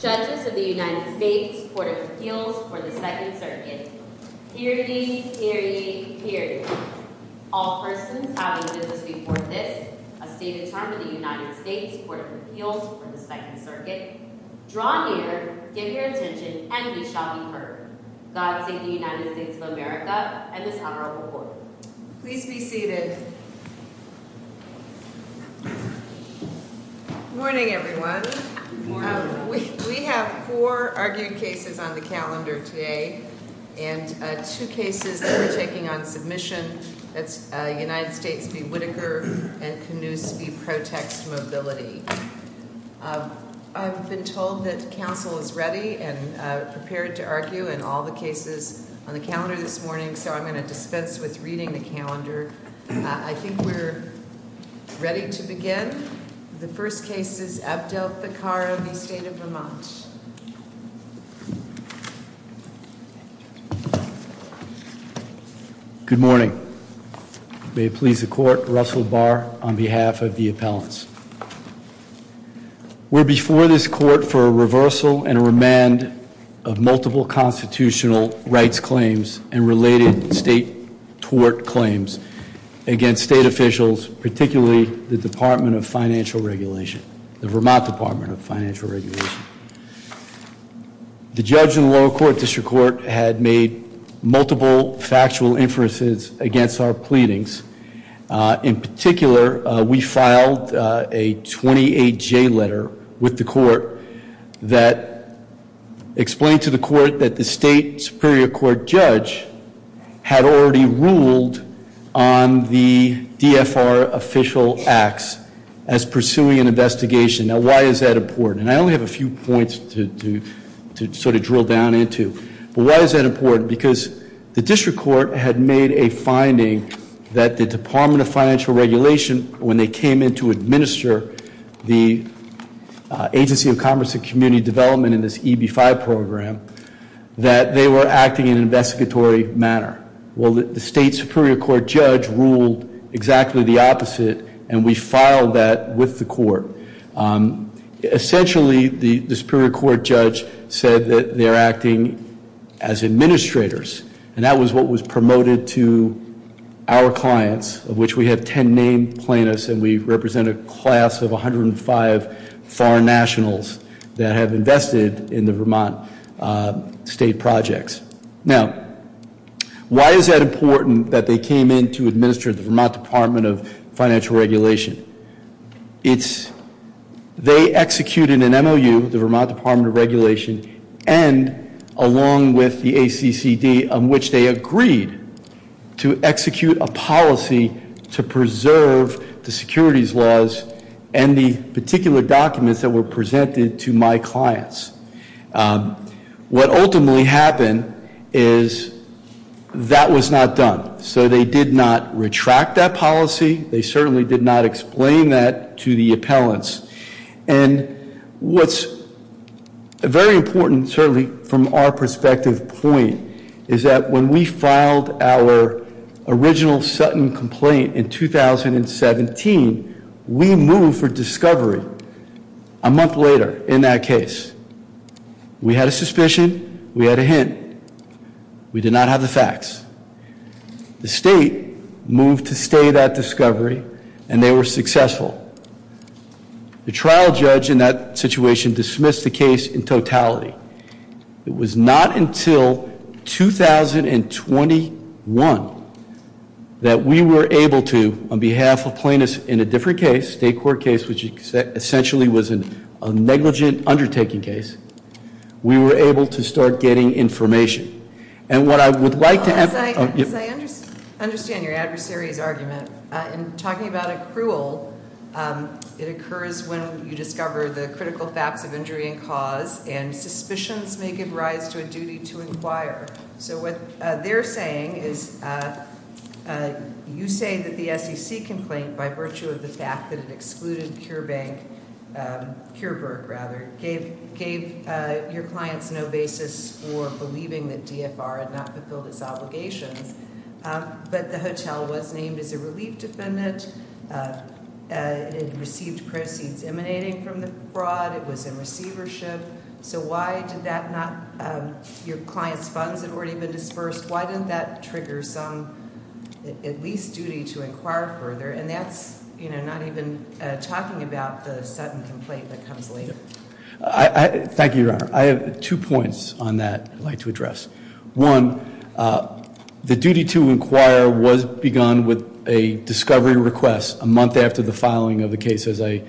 Judges of the United States Court of Appeals for the Second Circuit Hear ye! Hear ye! Hear ye! All persons having business before this, a stated term of the United States Court of Appeals for the Second Circuit, draw near, give your attention, and ye shall be heard. God save the United States of America and this honorable court. Please be seated. Morning, everyone. We have four argued cases on the calendar today, and two cases that are taking on submission. That's United States v. Whitaker and Canoes v. Protext Mobility. I've been told that counsel is ready and prepared to argue in all the cases on the calendar this morning, so I'm going to dispense with reading the calendar. I think we're ready to begin. The first case is Abdel-Fakhara v. State of Vermont. Good morning. May it please the court, Russell Barr on behalf of the appellants. We're before this court for a reversal and a remand of multiple constitutional rights claims and related state tort claims against state officials, particularly the Department of Financial Regulation, the Vermont Department of Financial Regulation. The judge in the lower court district court had made multiple factual inferences against our pleadings. In particular, we filed a 28-J letter with the court that explained to the court that the state superior court judge had already ruled on the DFR official acts as pursuing an investigation. Now, why is that important? And I only have a few points to sort of drill down into. Why is that important? Because the district court had made a finding that the Department of Financial Regulation, when they came in to administer the Agency of Commerce and Community Development in this EB-5 program, that they were acting in an investigatory manner. Well, the state superior court judge ruled exactly the opposite, and we filed that with the court. Essentially, the superior court judge said that they're acting as administrators, and that was what was promoted to our clients, of which we have ten named plaintiffs, and we represent a class of 105 foreign nationals that have invested in the Vermont state projects. Now, why is that important that they came in to administer the Vermont Department of Financial Regulation? It's they executed an MOU, the Vermont Department of Regulation, and along with the ACCD, of which they agreed to execute a policy to preserve the securities laws and the particular documents that were presented to my clients. What ultimately happened is that was not done. So they did not retract that policy. They certainly did not explain that to the appellants. And what's very important, certainly from our perspective point, is that when we filed our original Sutton complaint in 2017, we moved for discovery a month later in that case. We had a suspicion. We had a hint. We did not have the facts. The state moved to stay that discovery, and they were successful. The trial judge in that situation dismissed the case in totality. It was not until 2021 that we were able to, on behalf of plaintiffs in a different case, state court case, which essentially was a negligent undertaking case, we were able to start getting information. And what I would like to have- As I understand your adversary's argument, in talking about accrual, it occurs when you discover the critical facts of injury and cause, and suspicions may give rise to a duty to inquire. So what they're saying is you say that the SEC complaint, by virtue of the fact that it excluded Pure Bank, Pure Berk, rather, gave your clients no basis for believing that DFR had not fulfilled its obligations, but the hotel was named as a relief defendant. It received proceeds emanating from the fraud. It was in receivership. So why did that not- Your clients' funds had already been dispersed. Why didn't that trigger some, at least, duty to inquire further? And that's not even talking about the sudden complaint that comes later. Thank you, Your Honor. I have two points on that I'd like to address. One, the duty to inquire was begun with a discovery request a month after the filing of the case, as I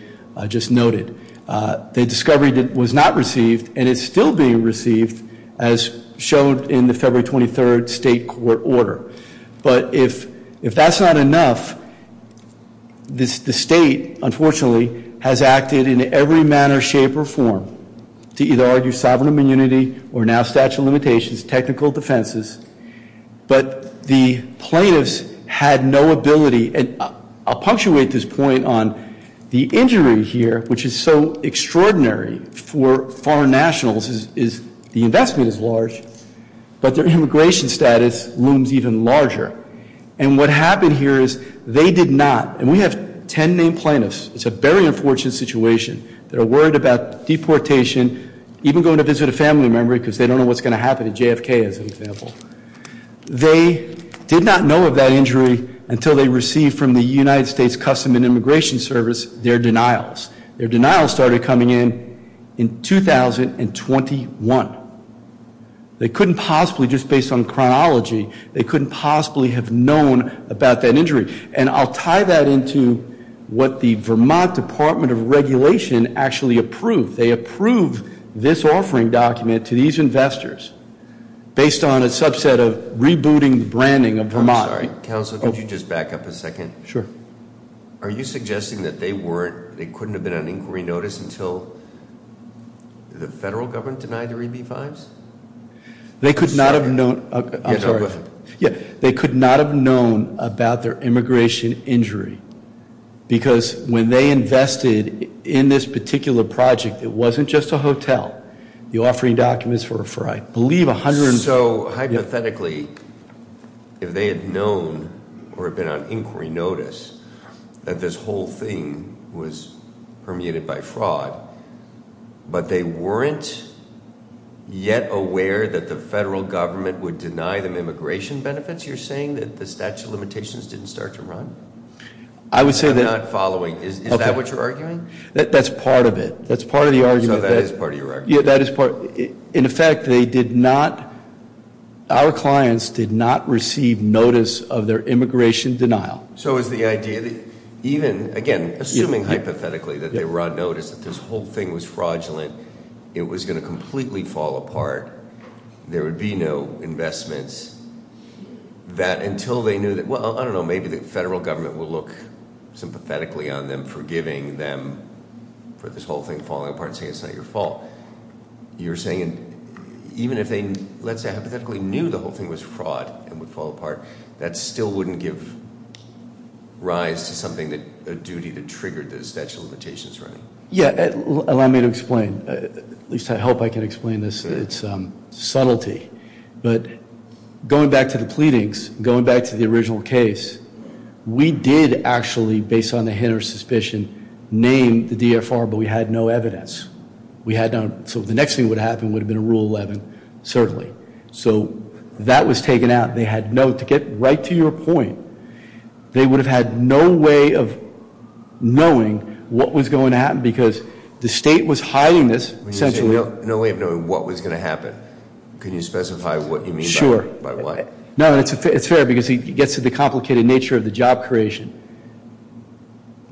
just noted. The discovery was not received, and it's still being received, as showed in the February 23rd state court order. But if that's not enough, the state, unfortunately, has acted in every manner, shape, or form, to either argue sovereign immunity or now statute of limitations, technical defenses. But the plaintiffs had no ability, and I'll punctuate this point on the injury here, which is so extraordinary for foreign nationals is the investment is large, but their immigration status looms even larger. And what happened here is they did not, and we have ten named plaintiffs, it's a very unfortunate situation, that are worried about deportation, even going to visit a family member because they don't know what's going to happen to JFK, as an example. They did not know of that injury until they received from the United States Customs and Immigration Service their denials. Their denials started coming in in 2021. They couldn't possibly, just based on chronology, they couldn't possibly have known about that injury. And I'll tie that into what the Vermont Department of Regulation actually approved. They approved this offering document to these investors based on a subset of rebooting the branding of Vermont. I'm sorry, counsel, could you just back up a second? Sure. Are you suggesting that they couldn't have been on inquiry notice until the federal government denied their EB-5s? They could not have known, I'm sorry. Yeah, they could not have known about their immigration injury. Because when they invested in this particular project, it wasn't just a hotel. The offering documents were for, I believe, a hundred and- So hypothetically, if they had known or been on inquiry notice, that this whole thing was permeated by fraud, but they weren't yet aware that the federal government would deny them immigration benefits? You're saying that the statute of limitations didn't start to run? I would say that- I'm not following. Is that what you're arguing? That's part of it. That's part of the argument. So that is part of your argument. Yeah, that is part. In effect, they did not, our clients did not receive notice of their immigration denial. So is the idea that even, again, assuming hypothetically that they were on notice, that this whole thing was fraudulent, it was going to completely fall apart, there would be no investments, that until they knew that, well, I don't know, maybe the federal government will look sympathetically on them for forgiving them for this whole thing falling apart and saying it's not your fault. You're saying even if they, let's say, hypothetically knew the whole thing was fraud and would fall apart, that still wouldn't give rise to something, a duty that triggered the statute of limitations running? Yeah, allow me to explain. At least I hope I can explain this. It's subtlety. But going back to the pleadings, going back to the original case, we did actually, based on the hint of suspicion, name the DFR, but we had no evidence. We had no, so the next thing that would happen would have been a Rule 11, certainly. So that was taken out. They had no, to get right to your point, they would have had no way of knowing what was going to happen because the state was hiding this centrally. No way of knowing what was going to happen. Can you specify what you mean by what? Sure. No, it's fair because it gets to the complicated nature of the job creation.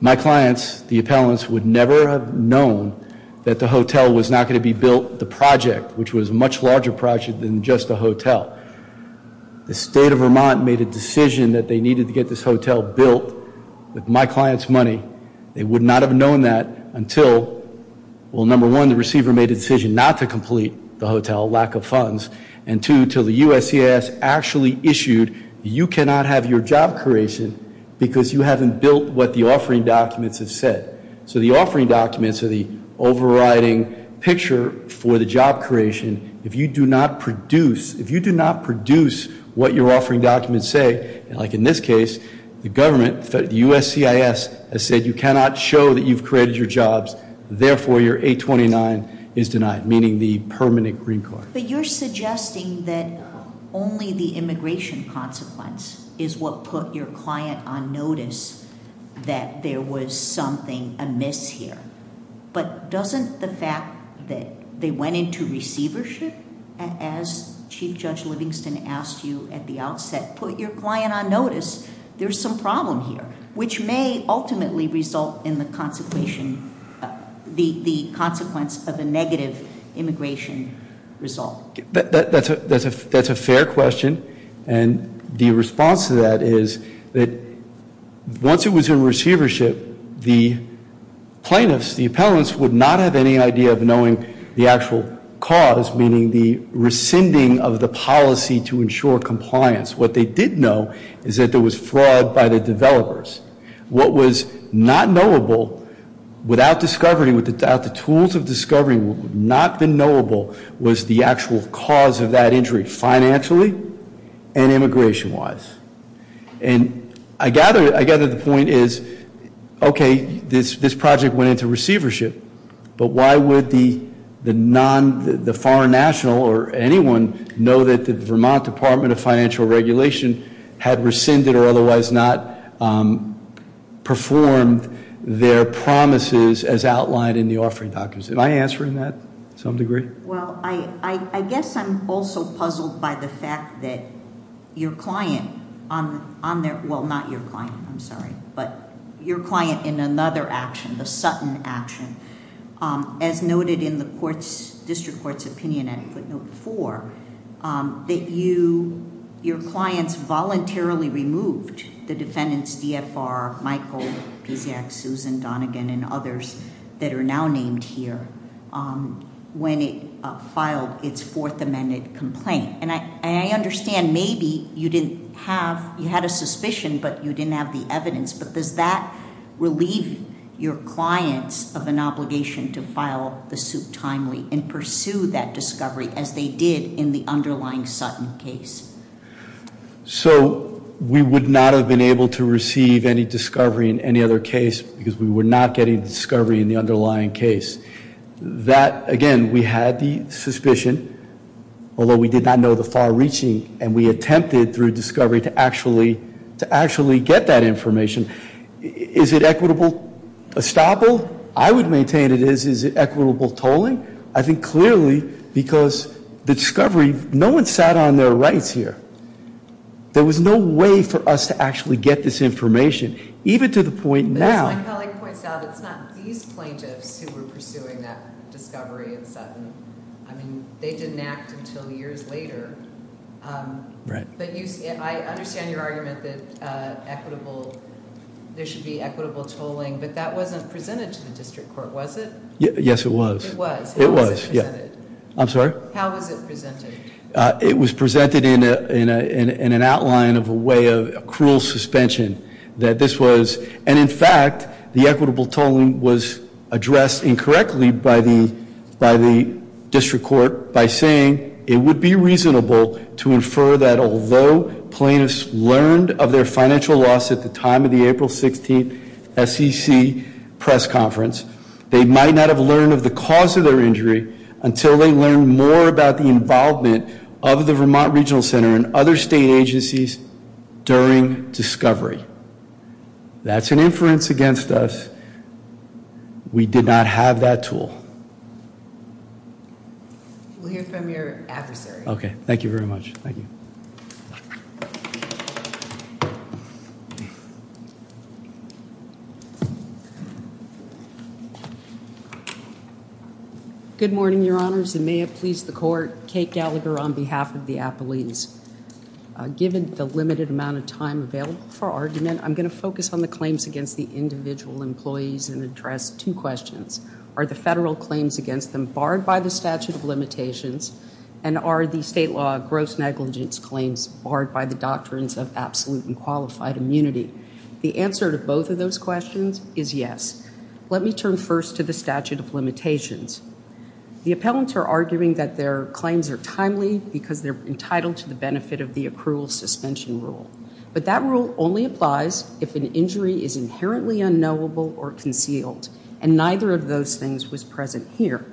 My clients, the appellants, would never have known that the hotel was not going to be built, the project, which was a much larger project than just a hotel. The state of Vermont made a decision that they needed to get this hotel built with my clients' money. They would not have known that until, well, number one, the receiver made a decision not to complete the hotel, lack of funds, and two, until the USCIS actually issued you cannot have your job creation because you haven't built what the offering documents have said. So the offering documents are the overriding picture for the job creation. If you do not produce what your offering documents say, like in this case, the government, the USCIS has said you cannot show that you've created your jobs, therefore your 829 is denied, meaning the permanent green card. But you're suggesting that only the immigration consequence is what put your client on notice that there was something amiss here. But doesn't the fact that they went into receivership, as Chief Judge Livingston asked you at the outset, put your client on notice, there's some problem here, which may ultimately result in the consequence of a negative immigration result. That's a fair question. And the response to that is that once it was in receivership, the plaintiffs, the appellants, would not have any idea of knowing the actual cause, meaning the rescinding of the policy to ensure compliance. What they did know is that there was fraud by the developers. What was not knowable without the tools of discovery would not have been knowable was the actual cause of that injury financially and immigration-wise. And I gather the point is, okay, this project went into receivership, but why would the foreign national or anyone know that the Vermont Department of Financial Regulation had rescinded or otherwise not performed their promises as outlined in the offering documents? Am I answering that to some degree? Well, I guess I'm also puzzled by the fact that your client on their, well, not your client, I'm sorry, but your client in another action, the Sutton action, as noted in the district court's opinion at footnote four, that your clients voluntarily removed the defendants, DFR, Michael, PCX, Susan Donegan, and others that are now named here, when it filed its Fourth Amendment complaint. And I understand maybe you had a suspicion, but you didn't have the evidence. But does that relieve your clients of an obligation to file the suit timely and pursue that discovery as they did in the underlying Sutton case? So we would not have been able to receive any discovery in any other case because we were not getting discovery in the underlying case. That, again, we had the suspicion, although we did not know the far reaching, and we attempted through discovery to actually get that information. Is it equitable estoppel? I would maintain it is. Is it equitable tolling? I think clearly because the discovery, no one sat on their rights here. There was no way for us to actually get this information, even to the point now. As my colleague points out, it's not these plaintiffs who were pursuing that discovery in Sutton. They didn't act until years later. Right. But I understand your argument that there should be equitable tolling, but that wasn't presented to the district court, was it? Yes, it was. It was. How was it presented? I'm sorry? How was it presented? It was presented in an outline of a way of cruel suspension. And, in fact, the equitable tolling was addressed incorrectly by the district court by saying it would be reasonable to infer that although plaintiffs learned of their financial loss at the time of the April 16th SEC press conference, they might not have learned of the cause of their injury until they learned more about the involvement of the Vermont Regional Center and other state agencies during discovery. That's an inference against us. We did not have that tool. We'll hear from your adversary. Okay. Thank you very much. Thank you. Good morning, Your Honors, and may it please the court. Kate Gallagher on behalf of the appellees. Given the limited amount of time available for argument, I'm going to focus on the claims against the individual employees and address two questions. Are the federal claims against them barred by the statute of limitations, and are the state law gross negligence claims barred by the doctrines of absolute and qualified immunity? The answer to both of those questions is yes. Let me turn first to the statute of limitations. The appellants are arguing that their claims are timely because they're entitled to the benefit of the accrual suspension rule. But that rule only applies if an injury is inherently unknowable or concealed, and neither of those things was present here.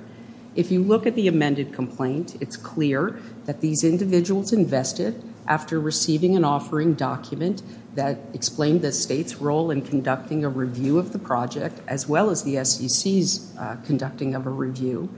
If you look at the amended complaint, it's clear that these individuals invested after receiving an offering document that explained the state's role in conducting a review of the project, as well as the SEC's conducting of a review,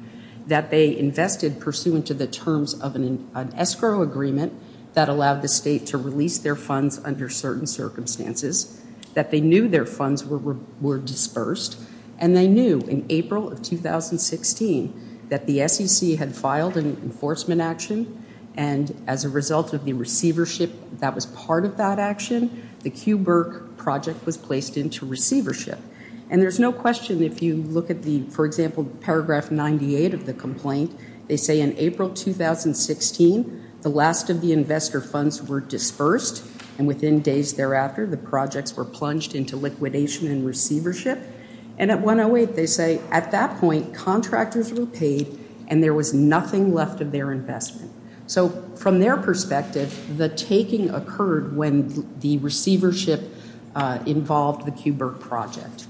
that they invested pursuant to the terms of an escrow agreement that allowed the state to release their funds under certain circumstances, that they knew their funds were dispersed, and they knew in April of 2016 that the SEC had filed an enforcement action, and as a result of the receivership that was part of that action, the Q Burke project was placed into receivership. And there's no question if you look at the, for example, paragraph 98 of the complaint, they say in April 2016 the last of the investor funds were dispersed, and within days thereafter the projects were plunged into liquidation and receivership, and at 108 they say at that point contractors were paid and there was nothing left of their investment. So from their perspective, the taking occurred when the receivership involved the Q Burke project.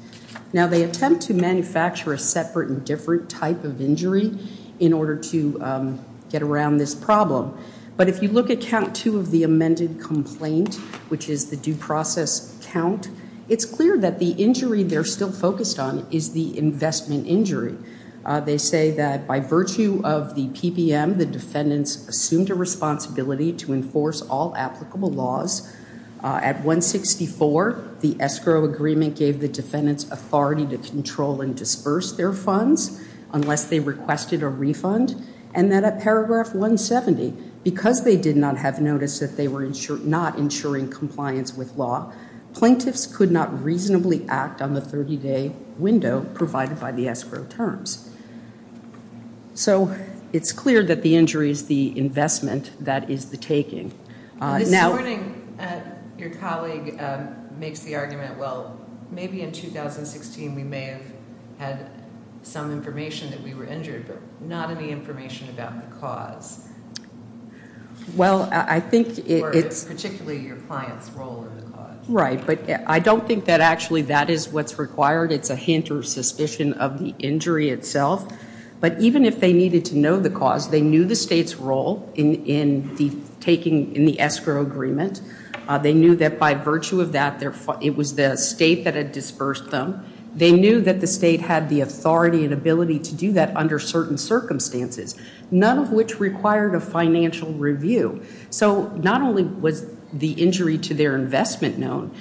Now they attempt to manufacture a separate and different type of injury in order to get around this problem, but if you look at count two of the amended complaint, which is the due process count, it's clear that the injury they're still focused on is the investment injury. They say that by virtue of the PPM, the defendants assumed a responsibility to enforce all applicable laws. At 164, the escrow agreement gave the defendants authority to control and disperse their funds unless they requested a refund, and that at paragraph 170, because they did not have notice that they were not ensuring compliance with law, plaintiffs could not reasonably act on the 30-day window provided by the escrow terms. So it's clear that the injury is the investment, that is the taking. Now this morning your colleague makes the argument, well, maybe in 2016 we may have had some information that we were injured, but not any information about the cause. Well, I think it's... Particularly your client's role in the cause. Right, but I don't think that actually that is what's required. It's a hint or suspicion of the injury itself, but even if they needed to know the cause, they knew the state's role in the escrow agreement. They knew that by virtue of that, it was the state that had dispersed them. They knew that the state had the authority and ability to do that under certain circumstances, none of which required a financial review. So not only was the injury to their investment known,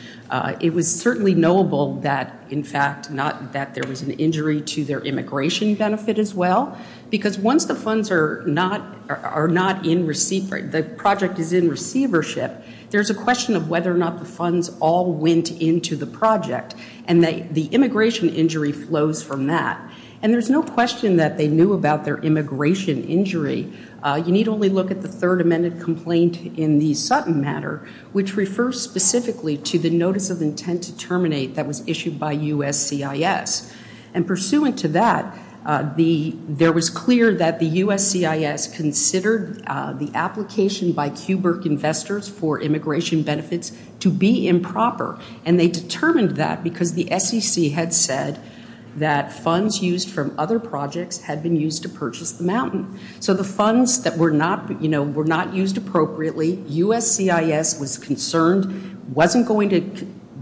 it was certainly knowable that, in fact, not that there was an injury to their immigration benefit as well, because once the funds are not in receipt, the project is in receivership, there's a question of whether or not the funds all went into the project, and the immigration injury flows from that. And there's no question that they knew about their immigration injury. You need only look at the third amended complaint in the Sutton matter, which refers specifically to the notice of intent to terminate that was issued by USCIS. And pursuant to that, there was clear that the USCIS considered the application by QBIRC investors for immigration benefits to be improper, and they determined that because the SEC had said that funds used from other projects had been used to purchase the mountain. So the funds that were not used appropriately, USCIS was concerned,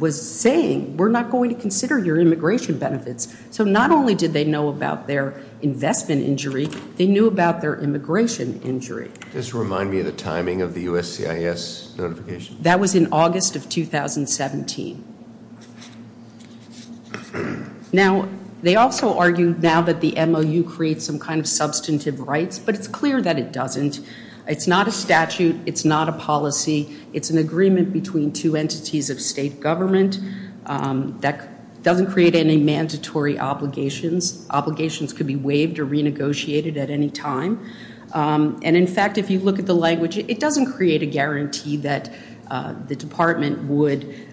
was saying, we're not going to consider your immigration benefits. So not only did they know about their investment injury, they knew about their immigration injury. Just remind me of the timing of the USCIS notification. That was in August of 2017. Now, they also argue now that the MOU creates some kind of substantive rights, but it's clear that it doesn't. It's not a statute, it's not a policy, it's an agreement between two entities of state government that doesn't create any mandatory obligations. Obligations could be waived or renegotiated at any time. And in fact, if you look at the language, it doesn't create a guarantee that the department would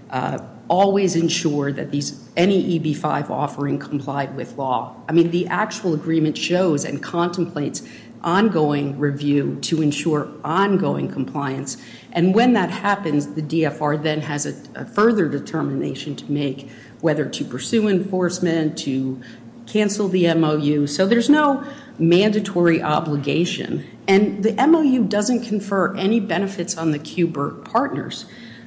always ensure that any EB-5 offering complied with law. I mean, the actual agreement shows and contemplates ongoing review to ensure ongoing compliance. And when that happens, the DFR then has a further determination to make, whether to pursue enforcement, to cancel the MOU. So there's no mandatory obligation. And the MOU doesn't confer any benefits on the QBURC partners.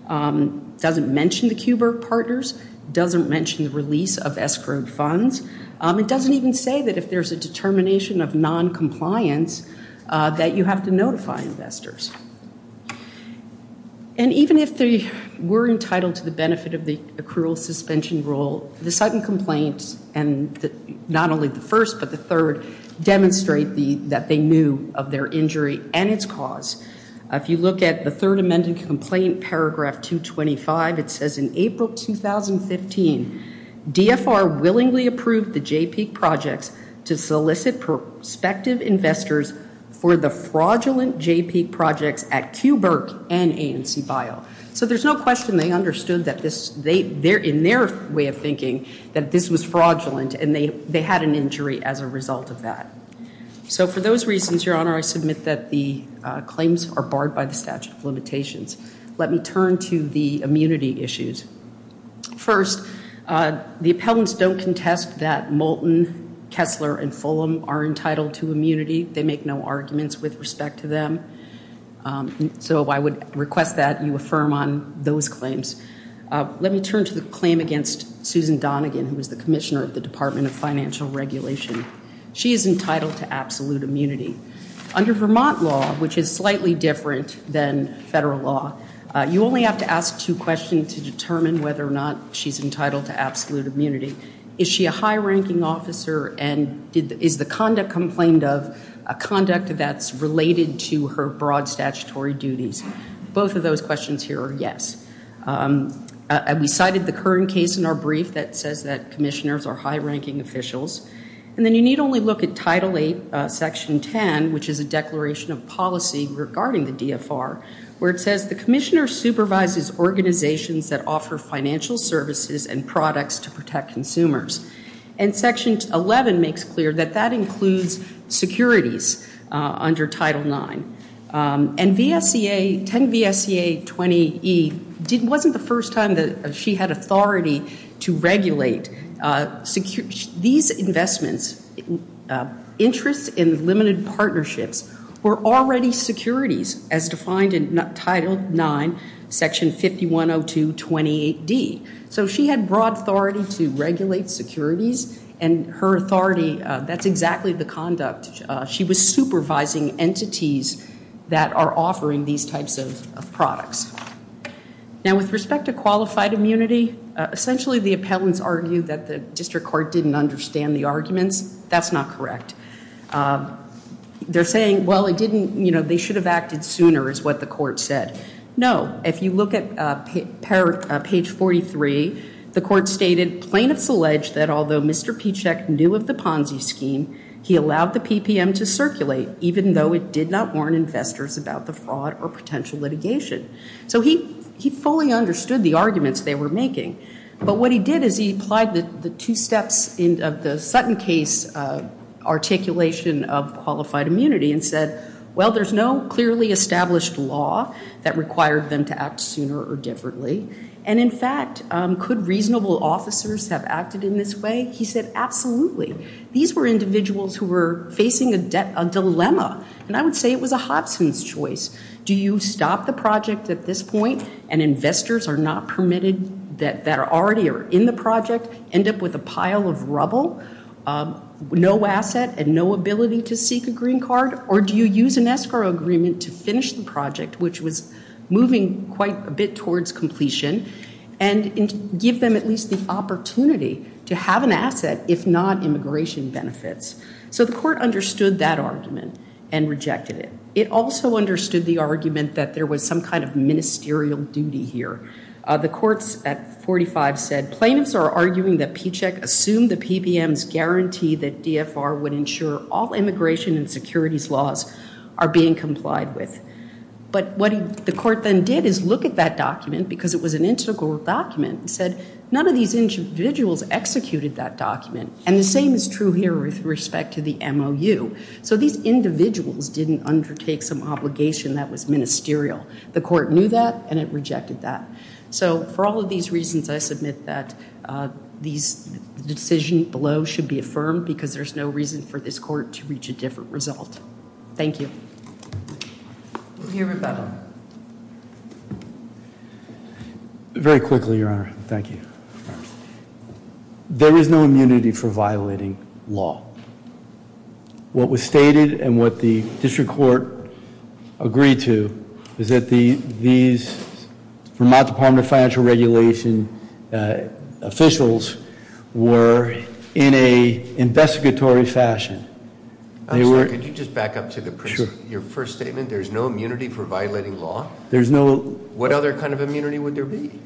It doesn't mention the QBURC partners. It doesn't mention the release of escrowed funds. It doesn't even say that if there's a determination of noncompliance that you have to notify investors. And even if they were entitled to the benefit of the accrual suspension rule, the second complaint, and not only the first, but the third, demonstrate that they knew of their injury and its cause. If you look at the third amended complaint, paragraph 225, it says, in April 2015, DFR willingly approved the JPEG projects to solicit prospective investors for the fraudulent JPEG projects at QBURC and ANCBIO. So there's no question they understood in their way of thinking that this was fraudulent and they had an injury as a result of that. So for those reasons, Your Honor, I submit that the claims are barred by the statute of limitations. Let me turn to the immunity issues. First, the appellants don't contest that Moulton, Kessler, and Fulham are entitled to immunity. They make no arguments with respect to them. So I would request that you affirm on those claims. Let me turn to the claim against Susan Donegan, who was the commissioner of the Department of Financial Regulation. She is entitled to absolute immunity. Under Vermont law, which is slightly different than federal law, you only have to ask two questions to determine whether or not she's entitled to absolute immunity. Is she a high-ranking officer? And is the conduct complained of a conduct that's related to her broad statutory duties? Both of those questions here are yes. We cited the current case in our brief that says that commissioners are high-ranking officials. And then you need only look at Title VIII, Section 10, which is a declaration of policy regarding the DFR, where it says, the commissioner supervises organizations that offer financial services and products to protect consumers. And Section 11 makes clear that that includes securities under Title IX. And 10 VSEA 20E wasn't the first time that she had authority to regulate these investments. Interests in limited partnerships were already securities, as defined in Title IX, Section 5102.28d. So she had broad authority to regulate securities. And her authority, that's exactly the conduct. She was supervising entities that are offering these types of products. Now, with respect to qualified immunity, essentially the appellants argue that the district court didn't understand the arguments. That's not correct. They're saying, well, it didn't, you know, they should have acted sooner is what the court said. No. If you look at page 43, the court stated, plaintiffs allege that although Mr. Pichek knew of the Ponzi scheme, he allowed the PPM to circulate even though it did not warn investors about the fraud or potential litigation. So he fully understood the arguments they were making. But what he did is he applied the two steps of the Sutton case articulation of qualified immunity and said, well, there's no clearly established law that required them to act sooner or differently. And in fact, could reasonable officers have acted in this way? He said, absolutely. These were individuals who were facing a dilemma. And I would say it was a Hodgson's choice. Do you stop the project at this point and investors are not permitted that are already in the project, end up with a pile of rubble, no asset and no ability to seek a green card? Or do you use an escrow agreement to finish the project, which was moving quite a bit towards completion, and give them at least the opportunity to have an asset, if not immigration benefits? So the court understood that argument and rejected it. It also understood the argument that there was some kind of ministerial duty here. The courts at 45 said plaintiffs are arguing that PCHEC assumed the PPM's guarantee that DFR would ensure all immigration and securities laws are being complied with. But what the court then did is look at that document because it was an integral document and said, none of these individuals executed that document. And the same is true here with respect to the MOU. So these individuals didn't undertake some obligation that was ministerial. The court knew that and it rejected that. So for all of these reasons, I submit that the decision below should be affirmed because there's no reason for this court to reach a different result. Thank you. We'll hear Rebecca. Very quickly, Your Honor. Thank you. There is no immunity for violating law. What was stated and what the district court agreed to is that these Vermont Department of Financial Regulation officials were in a investigatory fashion. Could you just back up to your first statement? There's no immunity for violating law? There's no. What other kind of immunity would there be?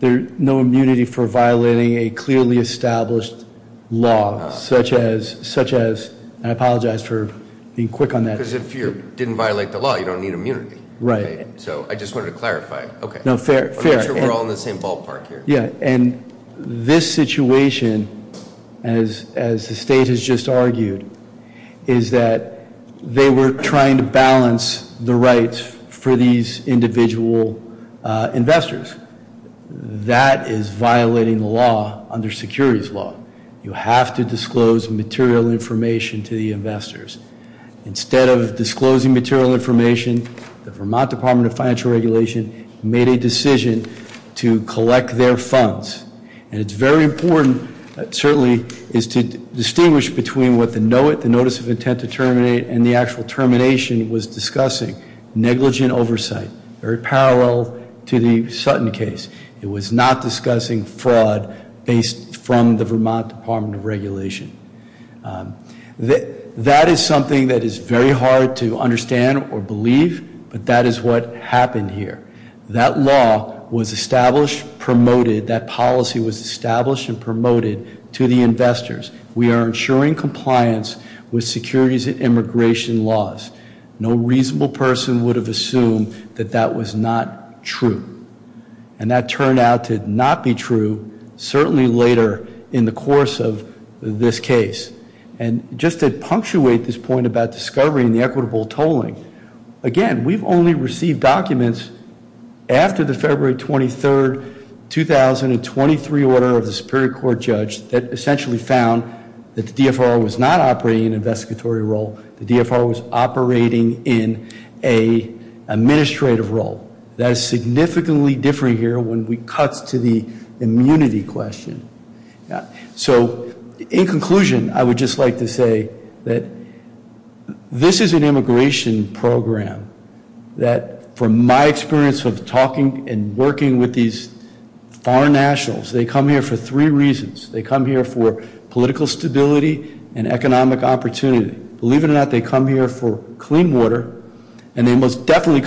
There's no immunity for violating a clearly established law such as, I apologize for being quick on that. Because if you didn't violate the law, you don't need immunity. Right. So I just wanted to clarify. Okay. Fair. I'm sure we're all in the same ballpark here. Yeah. And this situation, as the state has just argued, is that they were trying to balance the rights for these individual investors. That is violating the law under securities law. You have to disclose material information to the investors. Instead of disclosing material information, the Vermont Department of Financial Regulation made a decision to collect their funds. And it's very important, certainly, is to distinguish between what the notice of intent to terminate and the actual termination was discussing. Negligent oversight, very parallel to the Sutton case. It was not discussing fraud based from the Vermont Department of Regulation. That is something that is very hard to understand or believe, but that is what happened here. That law was established, promoted. That policy was established and promoted to the investors. We are ensuring compliance with securities and immigration laws. No reasonable person would have assumed that that was not true. And that turned out to not be true, certainly later in the course of this case. And just to punctuate this point about discovery and the equitable tolling, again, we've only received documents after the February 23, 2023 order of the Superior Court judge that essentially found that the DFR was not operating in an investigatory role. The DFR was operating in an administrative role. That is significantly different here when we cut to the immunity question. So in conclusion, I would just like to say that this is an immigration program that from my experience of talking and working with these foreign nationals, they come here for three reasons. They come here for political stability and economic opportunity. Believe it or not, they come here for clean water, It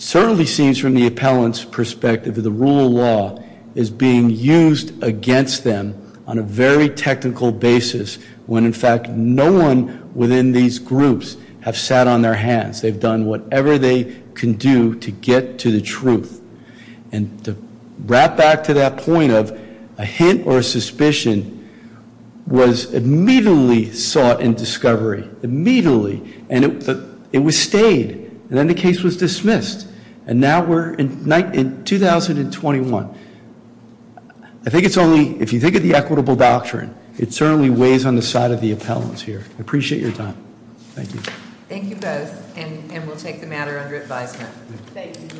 certainly seems from the appellant's perspective that the rule of law is being used against them on a very technical basis when, in fact, no one within these groups have sat on their hands. They've done whatever they can do to get to the truth. And to wrap back to that point of a hint or a suspicion was immediately sought in discovery, immediately. And it was stayed. And then the case was dismissed. And now we're in 2021. I think it's only, if you think of the equitable doctrine, it certainly weighs on the side of the appellants here. I appreciate your time. Thank you. Thank you both, and we'll take the matter under advisement.